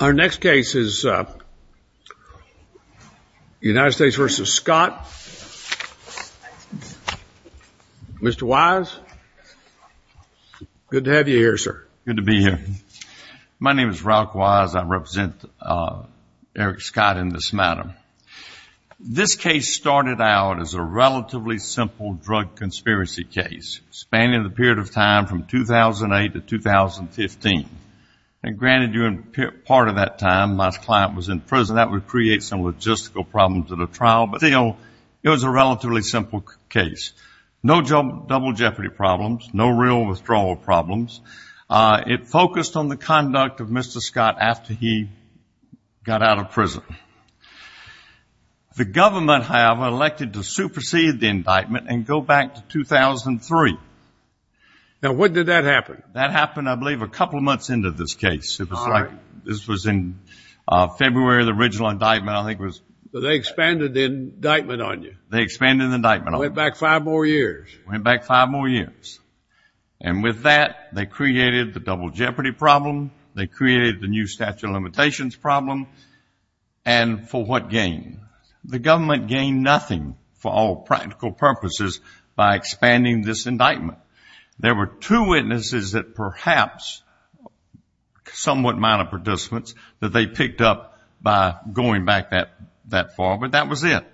Our next case is United States v. Scott. Mr. Wise, good to have you here, sir. Good to be here. My name is Ralph Wise. I represent Eric Scott in this matter. This case started out as a relatively simple drug conspiracy case spanning the period of time from 2008 to 2015. And granted, during part of that time, my client was in prison. That would create some logistical problems in a trial. But still, it was a relatively simple case. No double jeopardy problems. No real withdrawal problems. It focused on the conduct of Mr. Scott after he got out of prison. The government, however, elected to supersede the indictment and go back to 2003. Now, when did that happen? That happened, I believe, a couple of months into this case. All right. This was in February of the original indictment, I think it was. So they expanded the indictment on you. They expanded the indictment on me. Went back five more years. Went back five more years. And with that, they created the double jeopardy problem. They created the new statute of limitations problem. And for what gain? The government gained nothing for all practical purposes by expanding this indictment. There were two witnesses that perhaps, somewhat minor participants, that they picked up by going back that far. But that was it.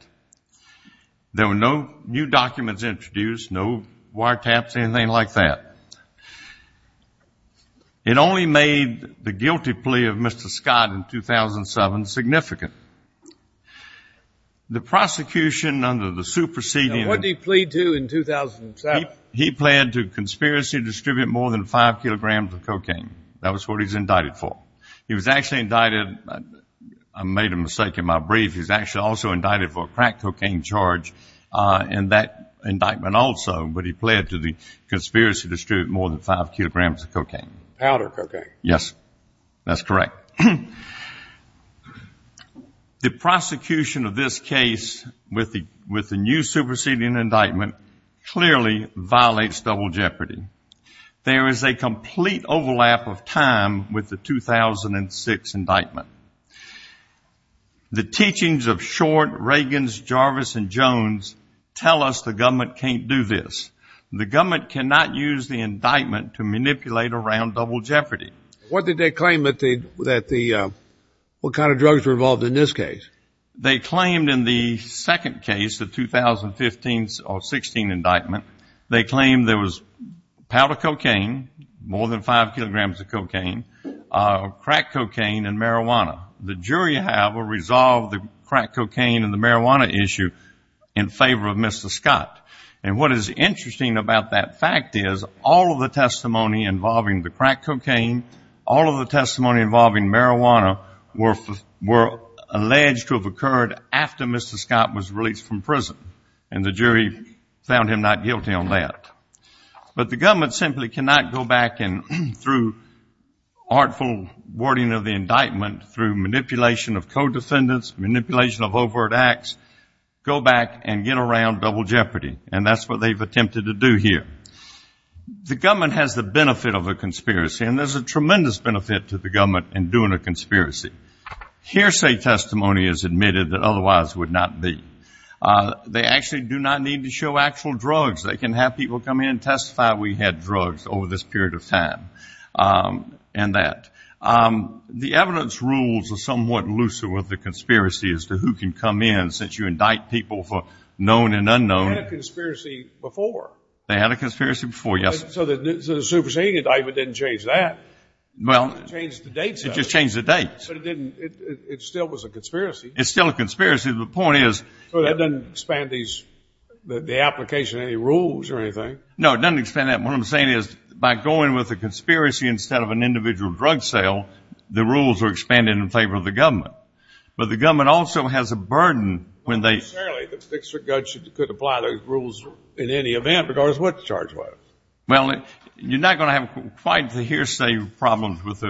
There were no new documents introduced, no wiretaps, anything like that. It only made the guilty plea of Mr. Scott in 2007 significant. The prosecution under the superseding. Now, what did he plead to in 2007? He pled to conspiracy to distribute more than five kilograms of cocaine. That was what he was indicted for. He was actually indicted. I made a mistake in my brief. He was actually also indicted for a crack cocaine charge in that indictment also. But he pled to the conspiracy to distribute more than five kilograms of cocaine. Powder cocaine. Yes. That's correct. The prosecution of this case with the new superseding indictment clearly violates double jeopardy. There is a complete overlap of time with the 2006 indictment. The teachings of Short, Reagans, Jarvis, and Jones tell us the government can't do this. The government cannot use the indictment to manipulate around double jeopardy. What did they claim that the, what kind of drugs were involved in this case? They claimed in the second case, the 2015 or 16 indictment, they claimed there was powder cocaine, more than five kilograms of cocaine, crack cocaine and marijuana. The jury, however, resolved the crack cocaine and the marijuana issue in favor of Mr. Scott. And what is interesting about that fact is all of the testimony involving the crack cocaine, all of the testimony involving marijuana were alleged to have occurred after Mr. Scott was released from prison. And the jury found him not guilty on that. But the government simply cannot go back and, through artful wording of the indictment, through manipulation of co-defendants, manipulation of overt acts, go back and get around double jeopardy. And that's what they've attempted to do here. The government has the benefit of a conspiracy, and there's a tremendous benefit to the government in doing a conspiracy. Hearsay testimony is admitted that otherwise would not be. They actually do not need to show actual drugs. They can have people come in and testify we had drugs over this period of time and that. The evidence rules are somewhat looser with the conspiracy as to who can come in, since you indict people for known and unknown. They had a conspiracy before. They had a conspiracy before, yes. So the superseding indictment didn't change that. Well, it just changed the dates. It just changed the dates. But it still was a conspiracy. It's still a conspiracy. Well, that doesn't expand the application of any rules or anything. No, it doesn't expand that. What I'm saying is by going with a conspiracy instead of an individual drug sale, the rules are expanded in favor of the government. But the government also has a burden when they ---- Well, apparently the fixer-guts could apply those rules in any event regardless of what the charge was. Well, you're not going to have quite the hearsay problems with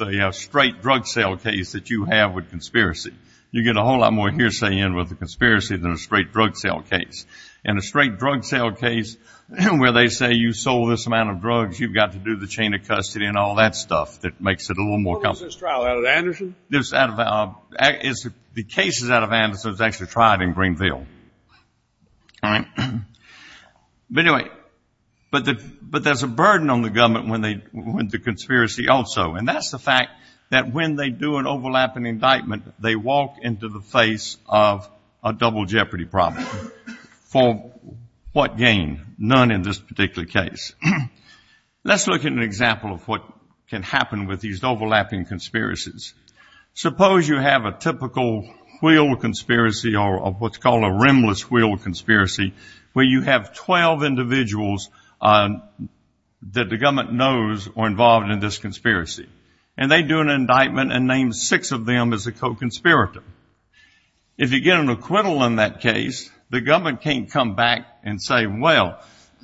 a straight drug sale case that you have with conspiracy. You get a whole lot more hearsay in with a conspiracy than a straight drug sale case. In a straight drug sale case where they say you sold this amount of drugs, you've got to do the chain of custody and all that stuff that makes it a little more complicated. What was this trial, out of Anderson? The case is out of Anderson. It was actually tried in Greenville. But anyway, but there's a burden on the government with the conspiracy also. And that's the fact that when they do an overlapping indictment, they walk into the face of a double jeopardy problem. For what gain? None in this particular case. Let's look at an example of what can happen with these overlapping conspiracies. Suppose you have a typical wheel conspiracy or what's called a rimless wheel conspiracy where you have 12 individuals that the government knows are involved in this conspiracy. And they do an indictment and name six of them as a co-conspirator. If you get an acquittal in that case, the government can't come back and say, well,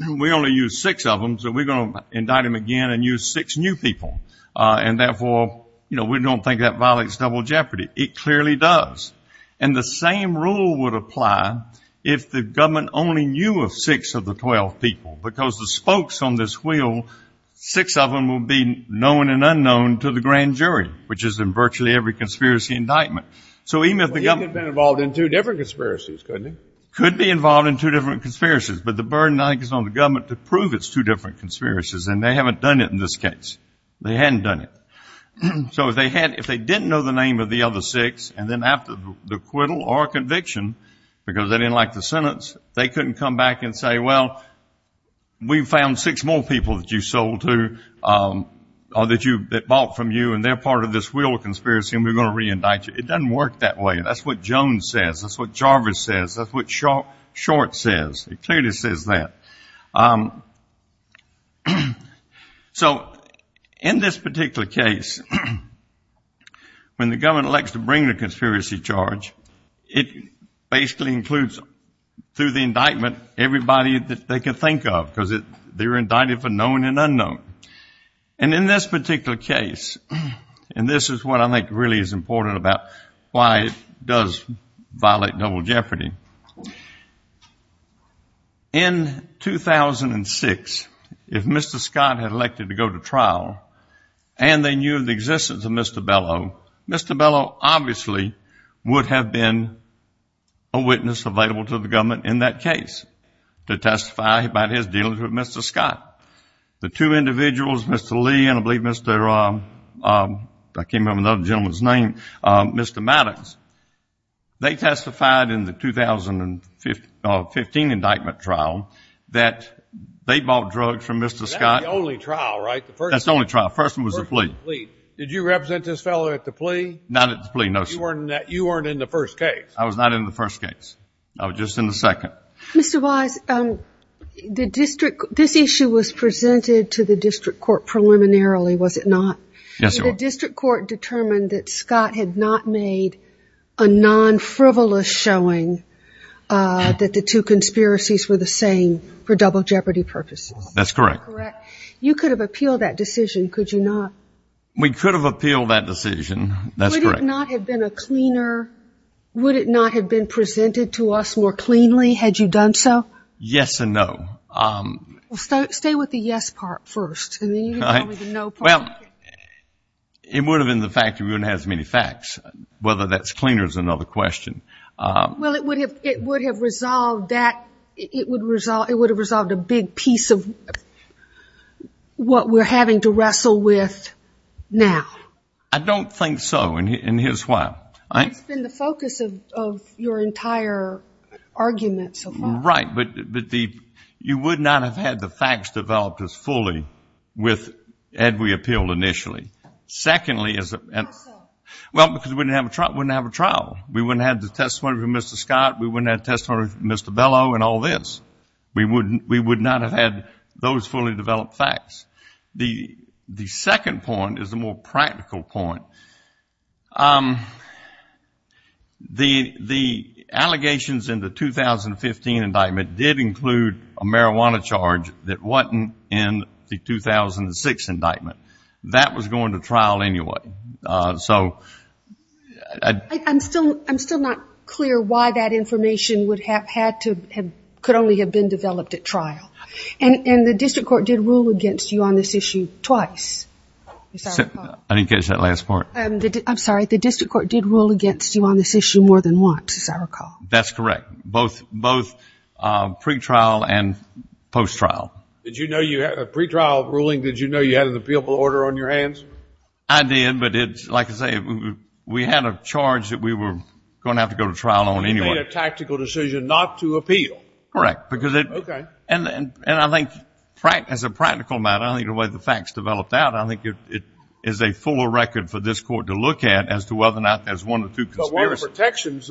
we only used six of them, so we're going to indict them again and use six new people, and therefore we don't think that violates double jeopardy. It clearly does. And the same rule would apply if the government only knew of six of the 12 people because the spokes on this wheel, six of them will be known and unknown to the grand jury, which is in virtually every conspiracy indictment. So even if the government — Well, he could have been involved in two different conspiracies, couldn't he? Could be involved in two different conspiracies. But the burden, I think, is on the government to prove it's two different conspiracies, and they haven't done it in this case. They hadn't done it. So if they didn't know the name of the other six and then after the acquittal or conviction, because they didn't like the sentence, they couldn't come back and say, well, we found six more people that you sold to or that bought from you and they're part of this wheel of conspiracy and we're going to reindict you. It doesn't work that way. That's what Jones says. That's what Jarvis says. That's what Short says. It clearly says that. So in this particular case, when the government elects to bring the conspiracy charge, it basically includes through the indictment everybody that they can think of because they're indicted for known and unknown. And in this particular case, and this is what I think really is important about why it does violate double jeopardy, in 2006, if Mr. Scott had elected to go to trial and they knew of the existence of Mr. Bellow, Mr. Bellow obviously would have been a witness available to the government in that case to testify about his dealings with Mr. Scott. The two individuals, Mr. Lee and I believe Mr. Maddox, they testified in the 2015 indictment trial that they bought drugs from Mr. Scott. That's the only trial, right? That's the only trial. The first one was the plea. Did you represent this fellow at the plea? Not at the plea, no, sir. You weren't in the first case. I was not in the first case. I was just in the second. Mr. Wise, this issue was presented to the district court preliminarily, was it not? Yes, it was. The district court determined that Scott had not made a non-frivolous showing that the two conspiracies were the same for double jeopardy purposes. That's correct. You could have appealed that decision, could you not? We could have appealed that decision, that's correct. Would it not have been a cleaner, would it not have been presented to us more cleanly had you done so? Yes and no. Stay with the yes part first and then you can tell me the no part. Well, it would have been the fact that we wouldn't have had as many facts. Whether that's cleaner is another question. Well, it would have resolved that. It would have resolved a big piece of what we're having to wrestle with now. I don't think so, and here's why. You're right, but you would not have had the facts developed as fully had we appealed initially. How so? Well, because we wouldn't have a trial. We wouldn't have the testimony from Mr. Scott. We wouldn't have the testimony from Mr. Bellow and all this. We would not have had those fully developed facts. The second point is the more practical point. The allegations in the 2015 indictment did include a marijuana charge that wasn't in the 2006 indictment. That was going to trial anyway. I'm still not clear why that information could only have been developed at trial, and the district court did rule against you on this issue twice. I didn't catch that last part. I'm sorry. The district court did rule against you on this issue more than once, as I recall. That's correct, both pre-trial and post-trial. Did you know you had a pre-trial ruling? Did you know you had an appealable order on your hands? I did, but like I say, we had a charge that we were going to have to go to trial on anyway. You made a tactical decision not to appeal. Correct. Okay. And I think as a practical matter, I think the way the facts developed out, I think it is a fuller record for this court to look at as to whether or not there's one or two conspiracies. But one of the protections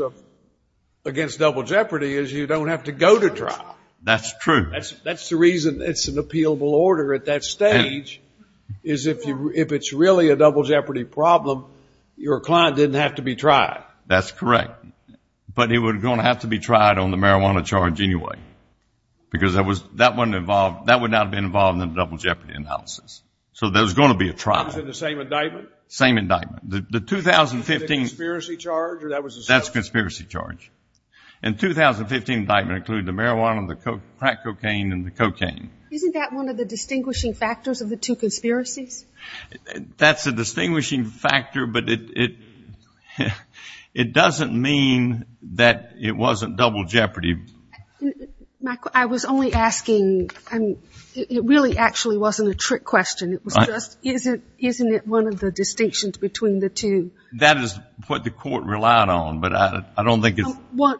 against double jeopardy is you don't have to go to trial. That's true. That's the reason it's an appealable order at that stage, is if it's really a double jeopardy problem, your client didn't have to be tried. That's correct. But it was going to have to be tried on the marijuana charge anyway, because that would not have been involved in the double jeopardy analysis. So there was going to be a trial. Was it the same indictment? Same indictment. The 2015 conspiracy charge? That's the conspiracy charge. And the 2015 indictment included the marijuana, the crack cocaine, and the cocaine. Isn't that one of the distinguishing factors of the two conspiracies? That's a distinguishing factor, but it doesn't mean that it wasn't double jeopardy. Michael, I was only asking, it really actually wasn't a trick question. It was just, isn't it one of the distinctions between the two? That is what the court relied on, but I don't think it's.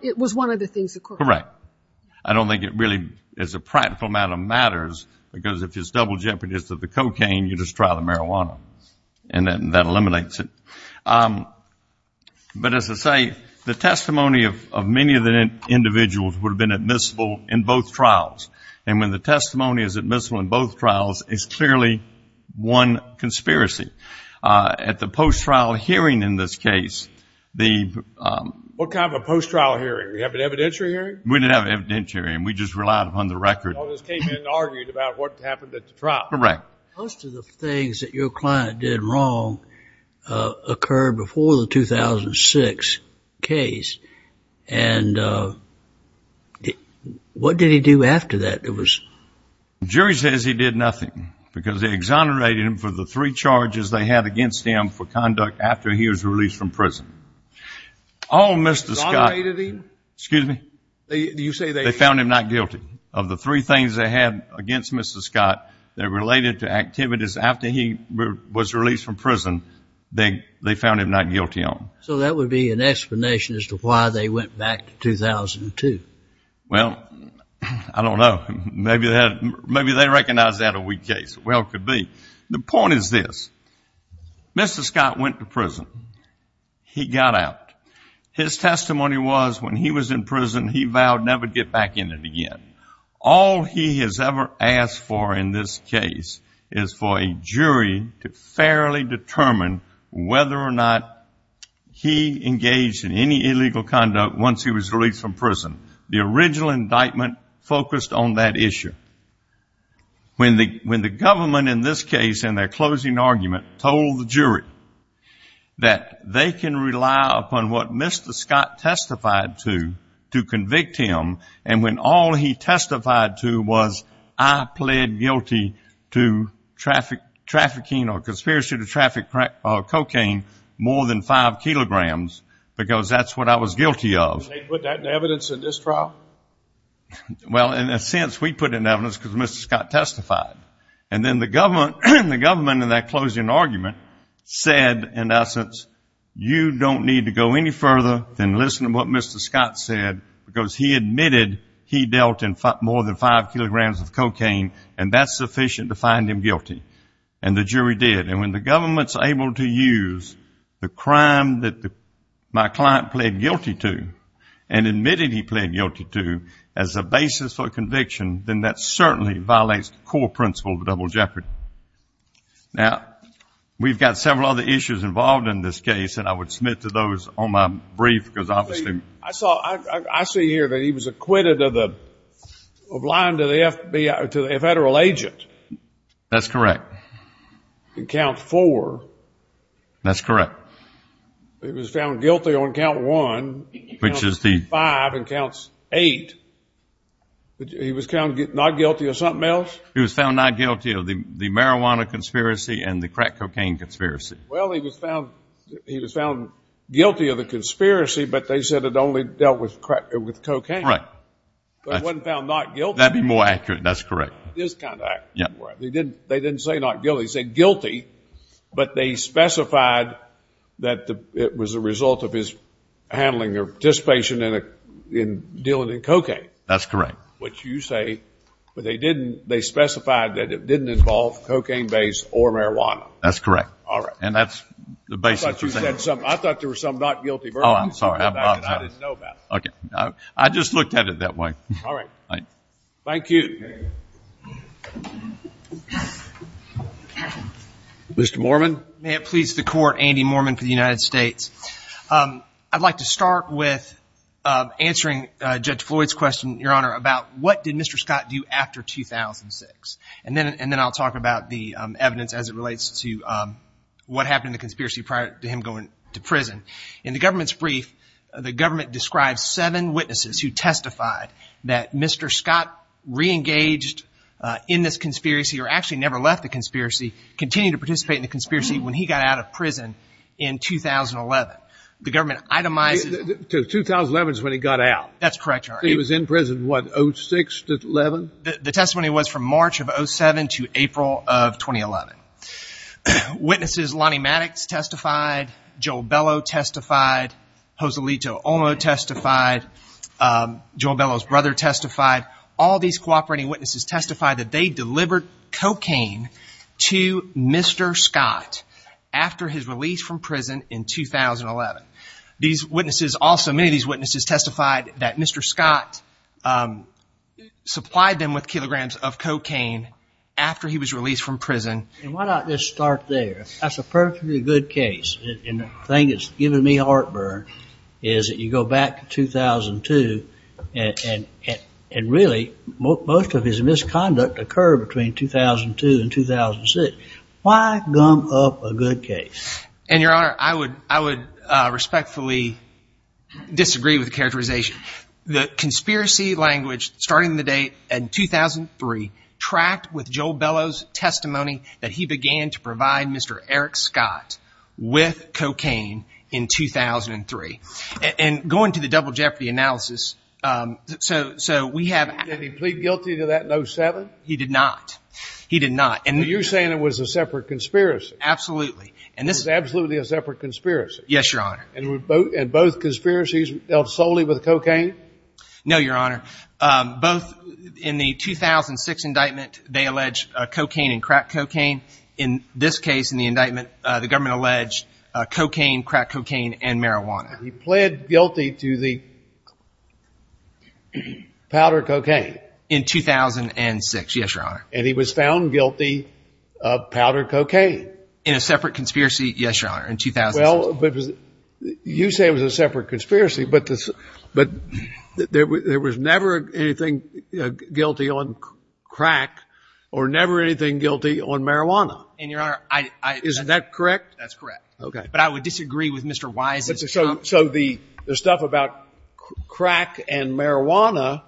It was one of the things the court relied on. Correct. I don't think it really, as a practical matter, matters, because if it's double jeopardy, it's the cocaine, you just try the marijuana. And that eliminates it. But as I say, the testimony of many of the individuals would have been admissible in both trials. And when the testimony is admissible in both trials, it's clearly one conspiracy. At the post-trial hearing in this case, the... What kind of a post-trial hearing? We have an evidentiary hearing? We didn't have an evidentiary, and we just relied upon the record. You just came in and argued about what happened at the trial. Correct. Most of the things that your client did wrong occurred before the 2006 case, and what did he do after that? The jury says he did nothing, because they exonerated him for the three charges they had against him for conduct after he was released from prison. Excuse me? You say they... The three things they had against Mr. Scott that related to activities after he was released from prison, they found him not guilty on. So that would be an explanation as to why they went back to 2002. Well, I don't know. Maybe they recognized that a weak case. Well, it could be. The point is this. Mr. Scott went to prison. He got out. His testimony was when he was in prison, he vowed never to get back in it again. All he has ever asked for in this case is for a jury to fairly determine whether or not he engaged in any illegal conduct once he was released from prison. The original indictment focused on that issue. When the government in this case in their closing argument told the jury that they can rely upon what Mr. Scott testified to to convict him, and when all he testified to was, I pled guilty to trafficking or conspiracy to traffic cocaine more than five kilograms, because that's what I was guilty of. Did they put that in evidence in this trial? Well, in a sense, we put it in evidence because Mr. Scott testified. And then the government in that closing argument said, in essence, you don't need to go any further than listen to what Mr. Scott said, because he admitted he dealt in more than five kilograms of cocaine, and that's sufficient to find him guilty. And the jury did. And when the government's able to use the crime that my client pled guilty to and admitted he pled guilty to as a basis for conviction, then that certainly violates the core principle of the double jeopardy. Now, we've got several other issues involved in this case, and I would submit to those on my brief. I see here that he was acquitted of lying to a federal agent. That's correct. In Count 4. That's correct. He was found guilty on Count 1, Count 65, and Count 8. He was found not guilty of something else? He was found not guilty of the marijuana conspiracy and the crack cocaine conspiracy. Well, he was found guilty of the conspiracy, but they said it only dealt with cocaine. Right. But it wasn't found not guilty. That would be more accurate. That's correct. It is kind of accurate. They didn't say not guilty. They said guilty, but they specified that it was a result of his handling or participation in dealing in cocaine. That's correct. Which you say, but they specified that it didn't involve cocaine-based or marijuana. That's correct. All right. And that's the basis. I thought you said something. I thought there was something not guilty. Oh, I'm sorry. I didn't know about it. Okay. I just looked at it that way. All right. Thank you. Mr. Mormon. May it please the Court, Andy Mormon for the United States. I'd like to start with answering Judge Floyd's question, Your Honor, about what did Mr. Scott do after 2006? And then I'll talk about the evidence as it relates to what happened in the conspiracy prior to him going to prison. In the government's brief, the government describes seven witnesses who testified that Mr. Scott reengaged in this conspiracy or actually never left the conspiracy, continued to participate in the conspiracy when he got out of prison in 2011. The government itemized it. 2011 is when he got out. That's correct, Your Honor. He was in prison, what, 06-11? The testimony was from March of 07 to April of 2011. Witnesses Lonnie Maddox testified, Joel Bellow testified, Joselito Olmo testified, Joel Bellow's brother testified. All these cooperating witnesses testified that they delivered cocaine to Mr. Scott after his release from prison in 2011. These witnesses also, many of these witnesses testified that Mr. Scott supplied them with kilograms of cocaine after he was released from prison. Why not just start there? That's a perfectly good case. And the thing that's given me heartburn is that you go back to 2002 and really most of his misconduct occurred between 2002 and 2006. Why gum up a good case? And, Your Honor, I would respectfully disagree with the characterization. The conspiracy language starting the date in 2003 tracked with Joel Bellow's testimony that he began to provide Mr. Eric Scott with cocaine in 2003. And going to the double jeopardy analysis, so we have – Did he plead guilty to that in 07? He did not. He did not. But you're saying it was a separate conspiracy. Absolutely. It was absolutely a separate conspiracy. Yes, Your Honor. And both conspiracies dealt solely with cocaine? No, Your Honor. Both in the 2006 indictment, they alleged cocaine and crack cocaine. In this case, in the indictment, the government alleged cocaine, crack cocaine, and marijuana. He pled guilty to the powder cocaine? In 2006, yes, Your Honor. And he was found guilty of powder cocaine? In a separate conspiracy, yes, Your Honor, in 2006. Well, you say it was a separate conspiracy, but there was never anything guilty on crack or never anything guilty on marijuana. And, Your Honor, I – Isn't that correct? That's correct. Okay. But I would disagree with Mr. Wise's – So the stuff about crack and marijuana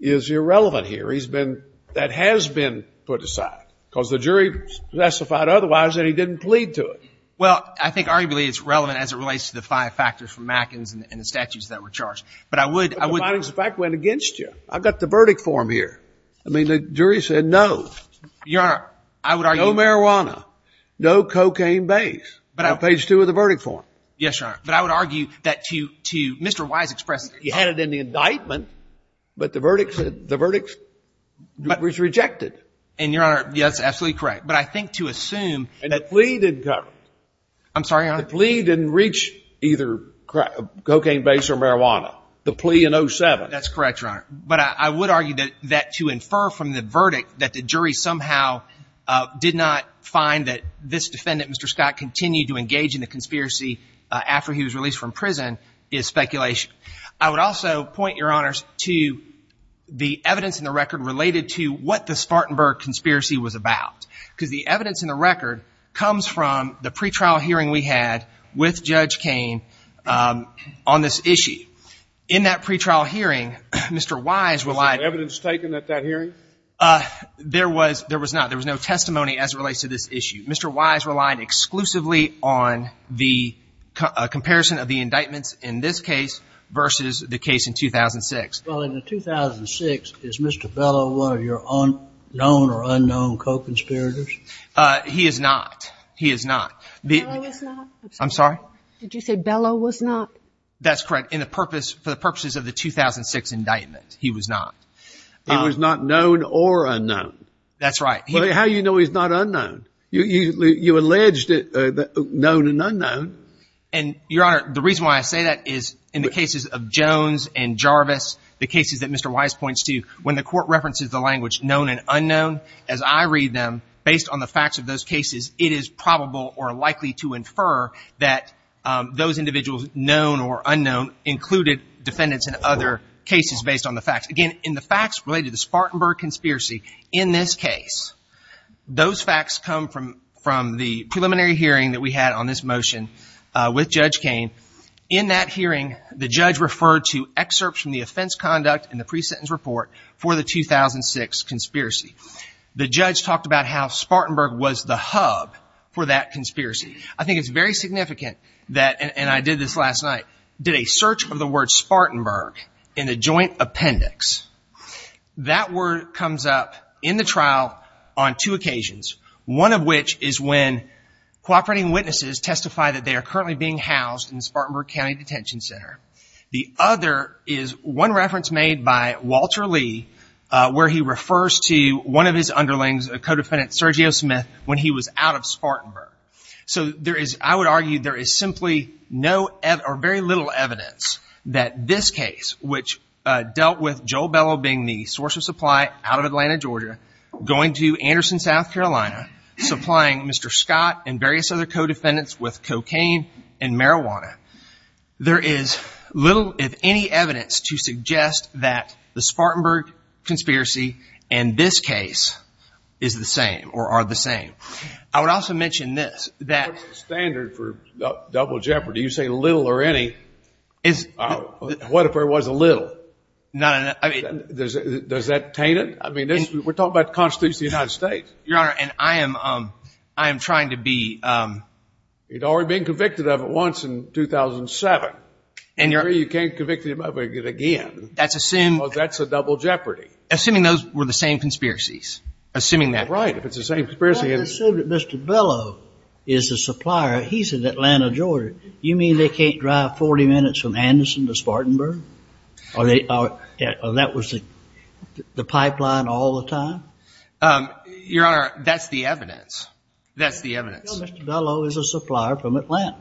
is irrelevant here. He's been – that has been put aside because the jury testified otherwise and he didn't plead to it. Well, I think arguably it's relevant as it relates to the five factors from Matkins and the statutes that were charged. But I would – But the findings of fact went against you. I've got the verdict form here. I mean, the jury said no. Your Honor, I would argue – No marijuana, no cocaine base on page two of the verdict form. Yes, Your Honor. But I would argue that to Mr. Wise expressed – He had it in the indictment, but the verdict said – the verdict was rejected. And, Your Honor, yes, absolutely correct. But I think to assume that – The plea didn't cover it. I'm sorry, Your Honor? The plea didn't reach either cocaine base or marijuana. The plea in 07. That's correct, Your Honor. But I would argue that to infer from the verdict that the jury somehow did not find that this defendant, Mr. Scott, continued to engage in the conspiracy after he was released from prison is speculation. I would also point, Your Honors, to the evidence in the record related to what the Spartanburg conspiracy was about. Because the evidence in the record comes from the pretrial hearing we had with Judge Cain on this issue. In that pretrial hearing, Mr. Wise relied – Was there evidence taken at that hearing? There was not. There was no testimony as it relates to this issue. Mr. Wise relied exclusively on the comparison of the indictments in this case versus the case in 2006. Well, in the 2006, is Mr. Bellow one of your known or unknown co-conspirators? He is not. He is not. Bellow is not? I'm sorry? Did you say Bellow was not? That's correct. For the purposes of the 2006 indictment, he was not. He was not known or unknown. That's right. How do you know he's not unknown? You alleged known and unknown. And, Your Honor, the reason why I say that is in the cases of Jones and Jarvis, the cases that Mr. Wise points to, when the court references the language known and unknown, as I read them, based on the facts of those cases, it is probable or likely to infer that those individuals, known or unknown, included defendants in other cases based on the facts. Again, in the facts related to the Spartanburg conspiracy in this case, those facts come from the preliminary hearing that we had on this motion with Judge Cain. In that hearing, the judge referred to excerpts from the offense conduct in the pre-sentence report for the 2006 conspiracy. The judge talked about how Spartanburg was the hub for that conspiracy. I think it's very significant that, and I did this last night, did a search of the word Spartanburg in the joint appendix. That word comes up in the trial on two occasions. One of which is when cooperating witnesses testify that they are currently being housed in the Spartanburg County Detention Center. The other is one reference made by Walter Lee, where he refers to one of his underlings, a co-defendant, Sergio Smith, when he was out of Spartanburg. I would argue there is simply very little evidence that this case, which dealt with Joel Bellow being the source of supply out of Atlanta, Georgia, going to Anderson, South Carolina, supplying Mr. Scott and various other co-defendants with cocaine and marijuana, there is little, if any, evidence to suggest that the Spartanburg conspiracy and this case are the same. I would also mention this. What is the standard for double jeopardy? You say little or any. What if there was a little? Does that taint it? We're talking about the Constitution of the United States. Your Honor, and I am trying to be… You'd already been convicted of it once in 2007. You can't convict him of it again. That's a double jeopardy. Assuming those were the same conspiracies. Assuming that. Right. If it's the same conspiracy… Mr. Bellow is the supplier. He's in Atlanta, Georgia. You mean they can't drive 40 minutes from Anderson to Spartanburg? Or that was the pipeline all the time? Your Honor, that's the evidence. That's the evidence. No, Mr. Bellow is a supplier from Atlanta.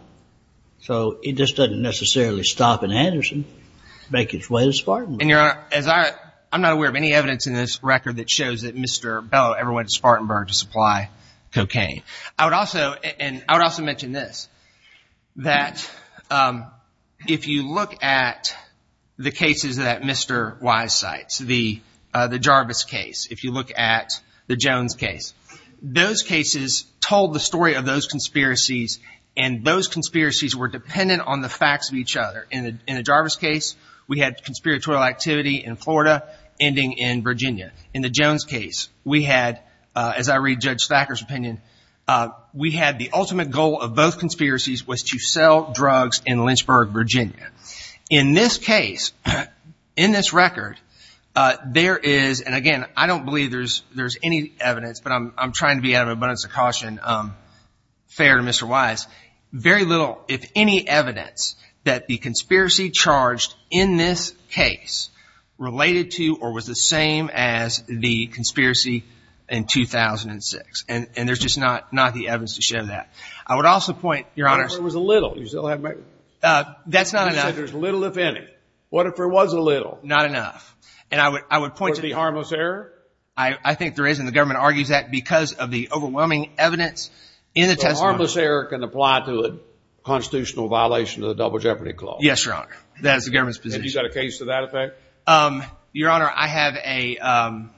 So it just doesn't necessarily stop in Anderson to make its way to Spartanburg. I'm not aware of any evidence in this record that shows that Mr. Bellow ever went to Spartanburg to supply cocaine. I would also mention this, that if you look at the cases that Mr. Wise cites, the Jarvis case, if you look at the Jones case, those cases told the story of those conspiracies, and those conspiracies were dependent on the facts of each other. In the Jarvis case, we had conspiratorial activity in Florida ending in Virginia. In the Jones case, we had, as I read Judge Thacker's opinion, we had the ultimate goal of both conspiracies was to sell drugs in Lynchburg, Virginia. In this case, in this record, there is, and again, I don't believe there's any evidence, but I'm trying to be out of abundance of caution, fair to Mr. Wise, very little, if any, evidence that the conspiracy charged in this case related to or was the same as the conspiracy in 2006. And there's just not the evidence to show that. I would also point, Your Honor. What if there was a little? That's not enough. You said there's little if any. What if there was a little? Not enough. And I would point to the… Was there harmless error? I think there is, and the government argues that because of the overwhelming evidence in the testimony. Harmless error can apply to a constitutional violation of the Double Jeopardy Clause. Yes, Your Honor. That is the government's position. Have you got a case to that effect? Your Honor, I have a…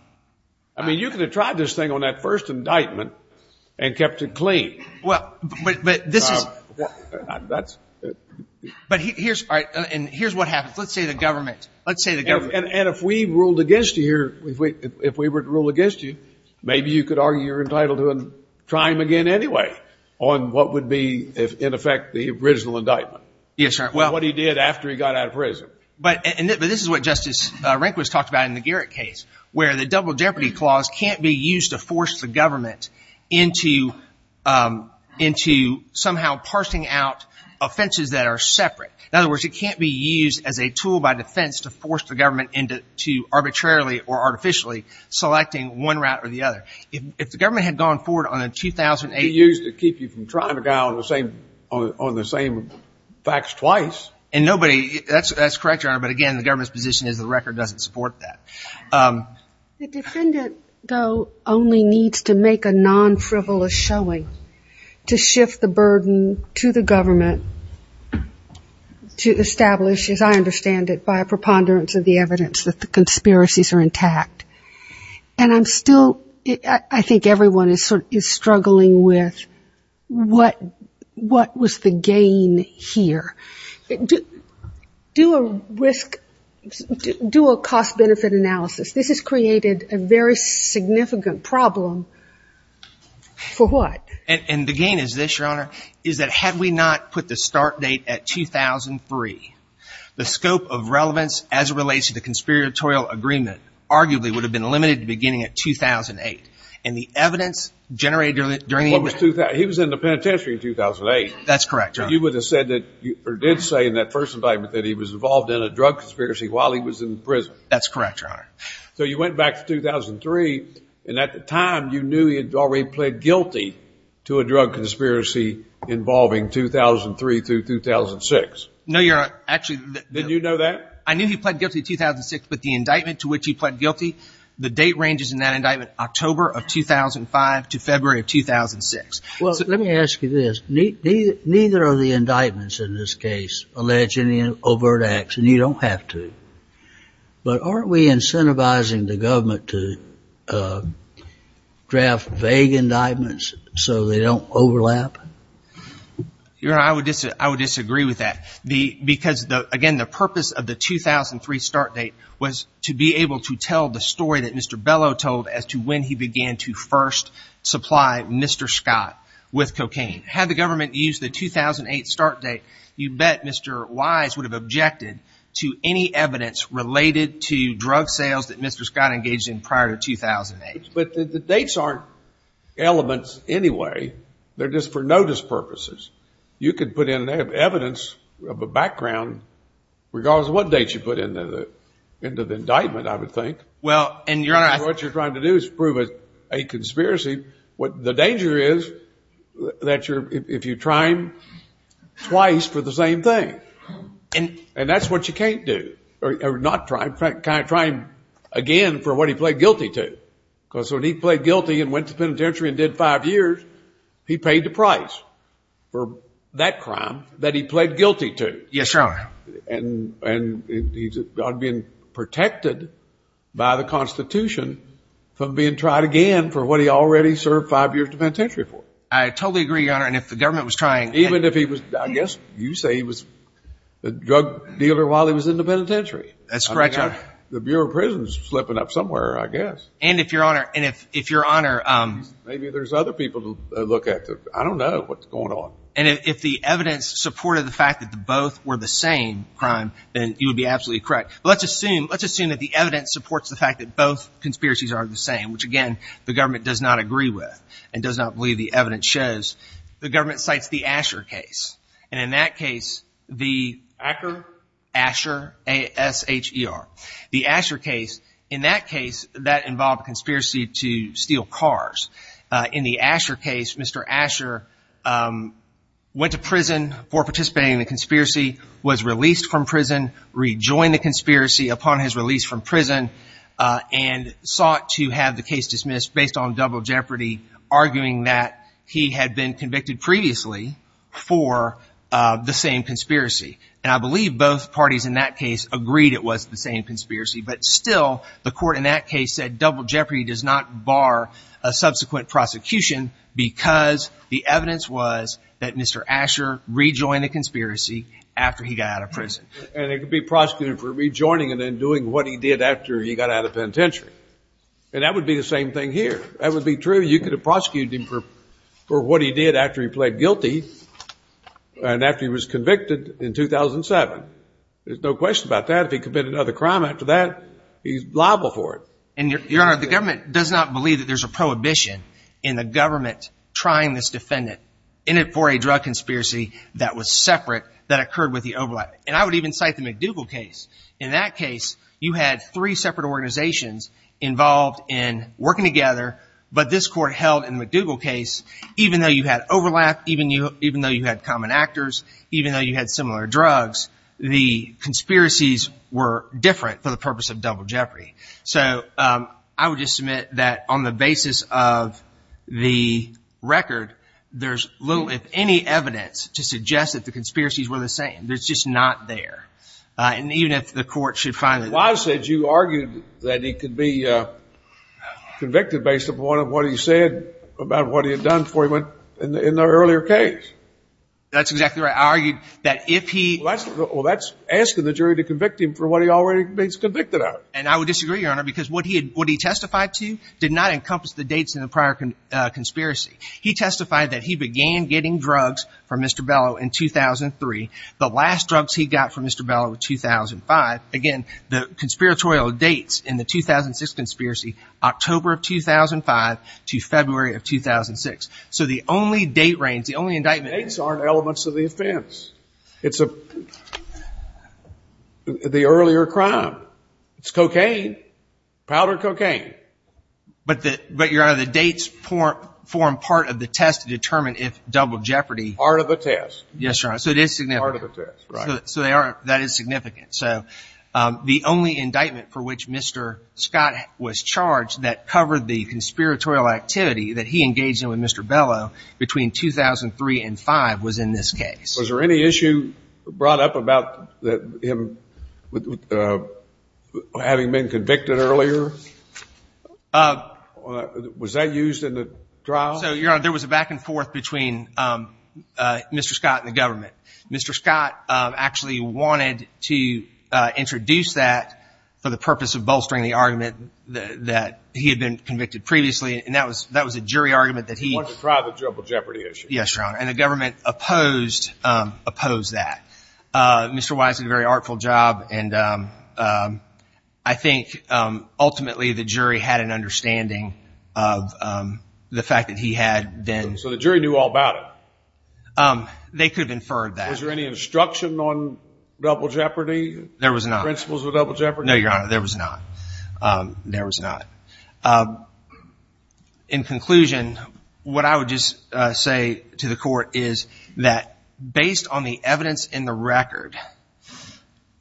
I mean, you could have tried this thing on that first indictment and kept it clean. Well, but this is… That's… But here's, all right, and here's what happens. Let's say the government, let's say the government… And if we ruled against you here, if we were to rule against you, maybe you could argue you're entitled to try him again anyway on what would be, in effect, the original indictment. Yes, Your Honor. What he did after he got out of prison. But this is what Justice Rehnquist talked about in the Garrett case, where the Double Jeopardy Clause can't be used to force the government into somehow parsing out offenses that are separate. In other words, it can't be used as a tool by defense to force the government into arbitrarily or artificially selecting one route or the other. If the government had gone forward on a 2008… It could be used to keep you from trying to go out on the same facts twice. And nobody… That's correct, Your Honor, but again, the government's position is the record doesn't support that. The defendant, though, only needs to make a non-frivolous showing to shift the burden to the government to establish, as I understand it, by a preponderance of the evidence that the conspiracies are intact. And I'm still – I think everyone is struggling with what was the gain here. Do a risk – do a cost-benefit analysis. This has created a very significant problem for what? And the gain is this, Your Honor, is that had we not put the start date at 2003, the scope of relevance as it relates to the conspiratorial agreement arguably would have been limited to beginning at 2008. And the evidence generated during the… He was in the penitentiary in 2008. That's correct, Your Honor. So you would have said that – or did say in that first indictment that he was involved in a drug conspiracy while he was in prison. That's correct, Your Honor. So you went back to 2003, and at the time you knew he had already pled guilty to a drug conspiracy involving 2003 through 2006. No, Your Honor, actually… Didn't you know that? I knew he pled guilty to 2006, but the indictment to which he pled guilty, the date ranges in that indictment October of 2005 to February of 2006. Well, let me ask you this. Neither of the indictments in this case allege any overt acts, and you don't have to. But aren't we incentivizing the government to draft vague indictments so they don't overlap? Your Honor, I would disagree with that because, again, the purpose of the 2003 start date was to be able to tell the story that Mr. Bellow told as to when he began to first supply Mr. Scott with cocaine. Had the government used the 2008 start date, you bet Mr. Wise would have objected to any evidence related to drug sales that Mr. Scott engaged in prior to 2008. But the dates aren't elements anyway. They're just for notice purposes. You could put in evidence of a background regardless of what date you put into the indictment, I would think. Well, and Your Honor… What you're trying to do is prove a conspiracy. The danger is that if you try him twice for the same thing, and that's what you can't do, or not try him, try him again for what he pled guilty to. Because when he pled guilty and went to the penitentiary and did five years, he paid the price for that crime that he pled guilty to. Yes, Your Honor. And he's being protected by the Constitution from being tried again for what he already served five years in the penitentiary for. I totally agree, Your Honor, and if the government was trying… Even if he was, I guess you say he was a drug dealer while he was in the penitentiary. That's correct, Your Honor. The Bureau of Prisons is slipping up somewhere, I guess. And if Your Honor… Maybe there's other people to look at. I don't know what's going on. And if the evidence supported the fact that both were the same crime, then you would be absolutely correct. But let's assume that the evidence supports the fact that both conspiracies are the same, which, again, the government does not agree with and does not believe the evidence shows. The government cites the Asher case. And in that case, the… Asher? Asher, A-S-H-E-R. The Asher case, in that case, that involved a conspiracy to steal cars. In the Asher case, Mr. Asher went to prison for participating in the conspiracy, was released from prison, rejoined the conspiracy upon his release from prison, and sought to have the case dismissed based on double jeopardy, arguing that he had been convicted previously for the same conspiracy. And I believe both parties in that case agreed it was the same conspiracy. But still, the court in that case said double jeopardy does not bar a subsequent prosecution because the evidence was that Mr. Asher rejoined the conspiracy after he got out of prison. And it could be prosecuted for rejoining and then doing what he did after he got out of penitentiary. And that would be the same thing here. That would be true. You could have prosecuted him for what he did after he pled guilty and after he was convicted in 2007. There's no question about that. If he committed another crime after that, he's liable for it. And, Your Honor, the government does not believe that there's a prohibition in the government trying this defendant in it for a drug conspiracy that was separate that occurred with the overlap. And I would even cite the McDougall case. In that case, you had three separate organizations involved in working together, but this court held in the McDougall case, even though you had overlap, even though you had common actors, even though you had similar drugs, the conspiracies were different for the purpose of double jeopardy. So I would just submit that on the basis of the record, there's little, if any, evidence to suggest that the conspiracies were the same. It's just not there. And even if the court should find it. Wise said you argued that he could be convicted based upon what he said about what he had done for him. In the earlier case. That's exactly right. I argued that if he. Well, that's asking the jury to convict him for what he already has been convicted of. And I would disagree, Your Honor, because what he testified to did not encompass the dates in the prior conspiracy. He testified that he began getting drugs from Mr. Bellow in 2003. The last drugs he got from Mr. Bellow in 2005. Again, the conspiratorial dates in the 2006 conspiracy, October of 2005 to February of 2006. So the only date range, the only indictment. Dates aren't elements of the offense. It's the earlier crime. It's cocaine. Powder cocaine. But, Your Honor, the dates form part of the test to determine if double jeopardy. Part of the test. Yes, Your Honor. So it is significant. Part of the test, right. So that is significant. So the only indictment for which Mr. Scott was charged that covered the conspiratorial activity that he engaged in with Mr. Bellow between 2003 and 2005 was in this case. Was there any issue brought up about him having been convicted earlier? Was that used in the trial? So, Your Honor, there was a back and forth between Mr. Scott and the government. Mr. Scott actually wanted to introduce that for the purpose of bolstering the argument that he had been convicted previously. And that was a jury argument that he. He wanted to try the double jeopardy issue. Yes, Your Honor. And the government opposed that. Mr. Wise did a very artful job. And I think ultimately the jury had an understanding of the fact that he had been. So the jury knew all about it? They could have inferred that. Was there any instruction on double jeopardy? There was not. Principles of double jeopardy? No, Your Honor, there was not. In conclusion, what I would just say to the court is that based on the evidence in the record,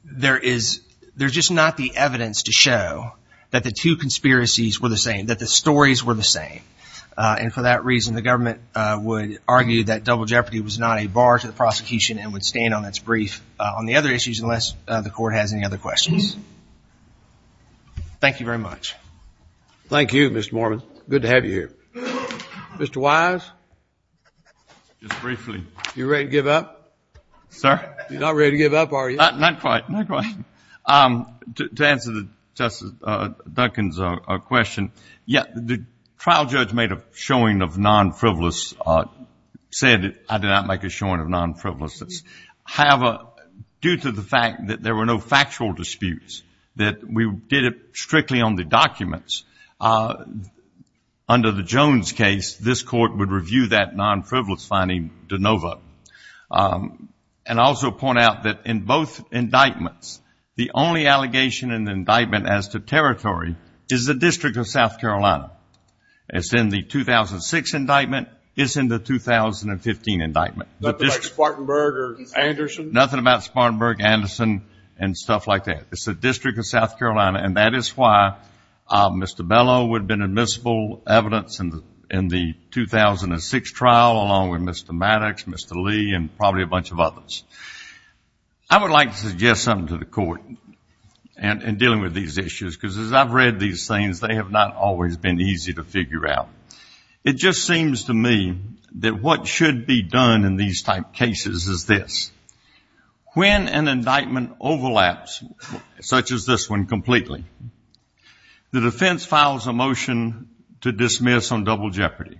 there is just not the evidence to show that the two conspiracies were the same, that the stories were the same. And for that reason, the government would argue that double jeopardy was not a bar to the prosecution and would stand on its brief on the other issues unless the court has any other questions. Thank you very much. Thank you, Mr. Mormon. Good to have you here. Mr. Wise? Just briefly. You ready to give up? Sir? You're not ready to give up, are you? Not quite, not quite. To answer Justice Duncan's question, yes, the trial judge made a showing of non-frivolous, said I did not make a showing of non-frivolousness. Due to the fact that there were no factual disputes, that we did it strictly on the documents, under the Jones case this court would review that non-frivolous finding de novo. And also point out that in both indictments, the only allegation in the indictment as to territory is the District of South Carolina. It's in the 2006 indictment. It's in the 2015 indictment. Nothing like Spartanburg or Anderson? Nothing about Spartanburg, Anderson, and stuff like that. It's the District of South Carolina, and that is why Mr. Bellow would have been admissible evidence in the 2006 trial, along with Mr. Maddox, Mr. Lee, and probably a bunch of others. I would like to suggest something to the court in dealing with these issues, because as I've read these things, they have not always been easy to figure out. It just seems to me that what should be done in these type cases is this. When an indictment overlaps, such as this one completely, the defense files a motion to dismiss on double jeopardy.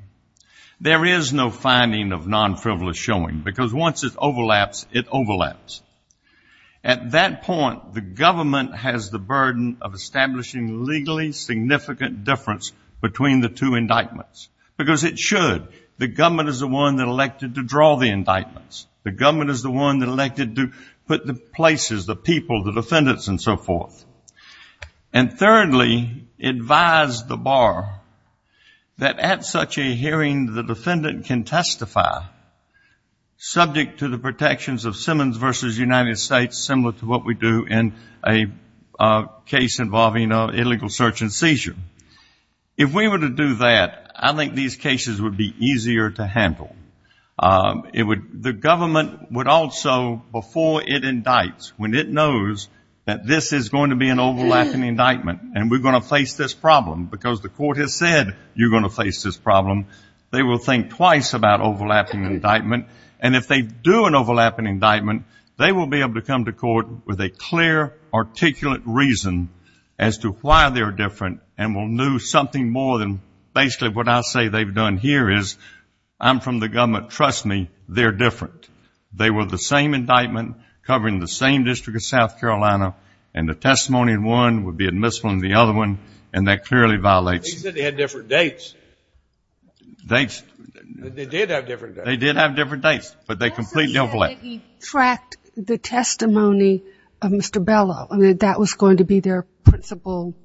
There is no finding of non-frivolous showing, because once it overlaps, it overlaps. At that point, the government has the burden of establishing legally significant difference between the two indictments, because it should. The government is the one that elected to draw the indictments. The government is the one that elected to put the places, the people, the defendants, and so forth. And thirdly, advise the bar that at such a hearing, the defendant can testify, subject to the protections of Simmons v. United States, similar to what we do in a case involving an illegal search and seizure. If we were to do that, I think these cases would be easier to handle. The government would also, before it indicts, when it knows that this is going to be an overlapping indictment, and we're going to face this problem, because the court has said you're going to face this problem, they will think twice about overlapping indictment. And if they do an overlapping indictment, they will be able to come to court with a clear, articulate reason as to why they're different, and will know something more than basically what I'll say they've done here is, I'm from the government, trust me, they're different. They were the same indictment covering the same district of South Carolina, and the testimony in one would be admissible in the other one, and that clearly violates. They said they had different dates. Dates? They did have different dates. They did have different dates, but they completely overlapped. They also said that he tracked the testimony of Mr. Bellow, and that that was going to be their principal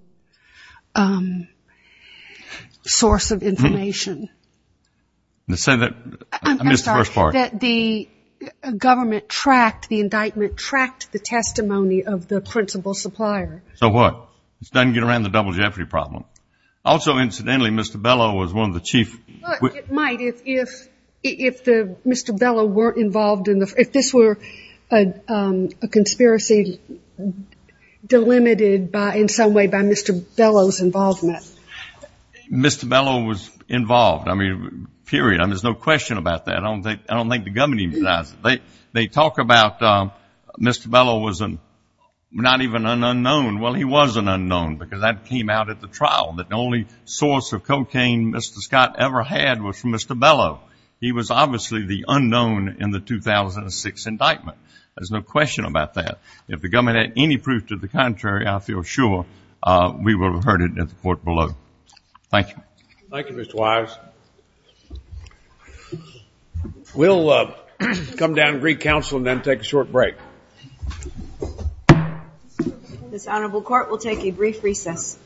source of information. The Senate, I missed the first part. I'm sorry, that the government tracked, the indictment tracked the testimony of the principal supplier. So what? It doesn't get around the double jeopardy problem. Also, incidentally, Mr. Bellow was one of the chief. It might if Mr. Bellow weren't involved in the, if this were a conspiracy delimited in some way by Mr. Bellow's involvement. Mr. Bellow was involved. I mean, period. I mean, there's no question about that. I don't think the government even does. They talk about Mr. Bellow was not even an unknown. Well, he was an unknown because that came out at the trial. The only source of cocaine Mr. Scott ever had was from Mr. Bellow. He was obviously the unknown in the 2006 indictment. There's no question about that. If the government had any proof to the contrary, I feel sure, we would have heard it at the court below. Thank you. Thank you, Mr. Wise. We'll come down to Greek Council and then take a short break. This Honorable Court will take a brief recess.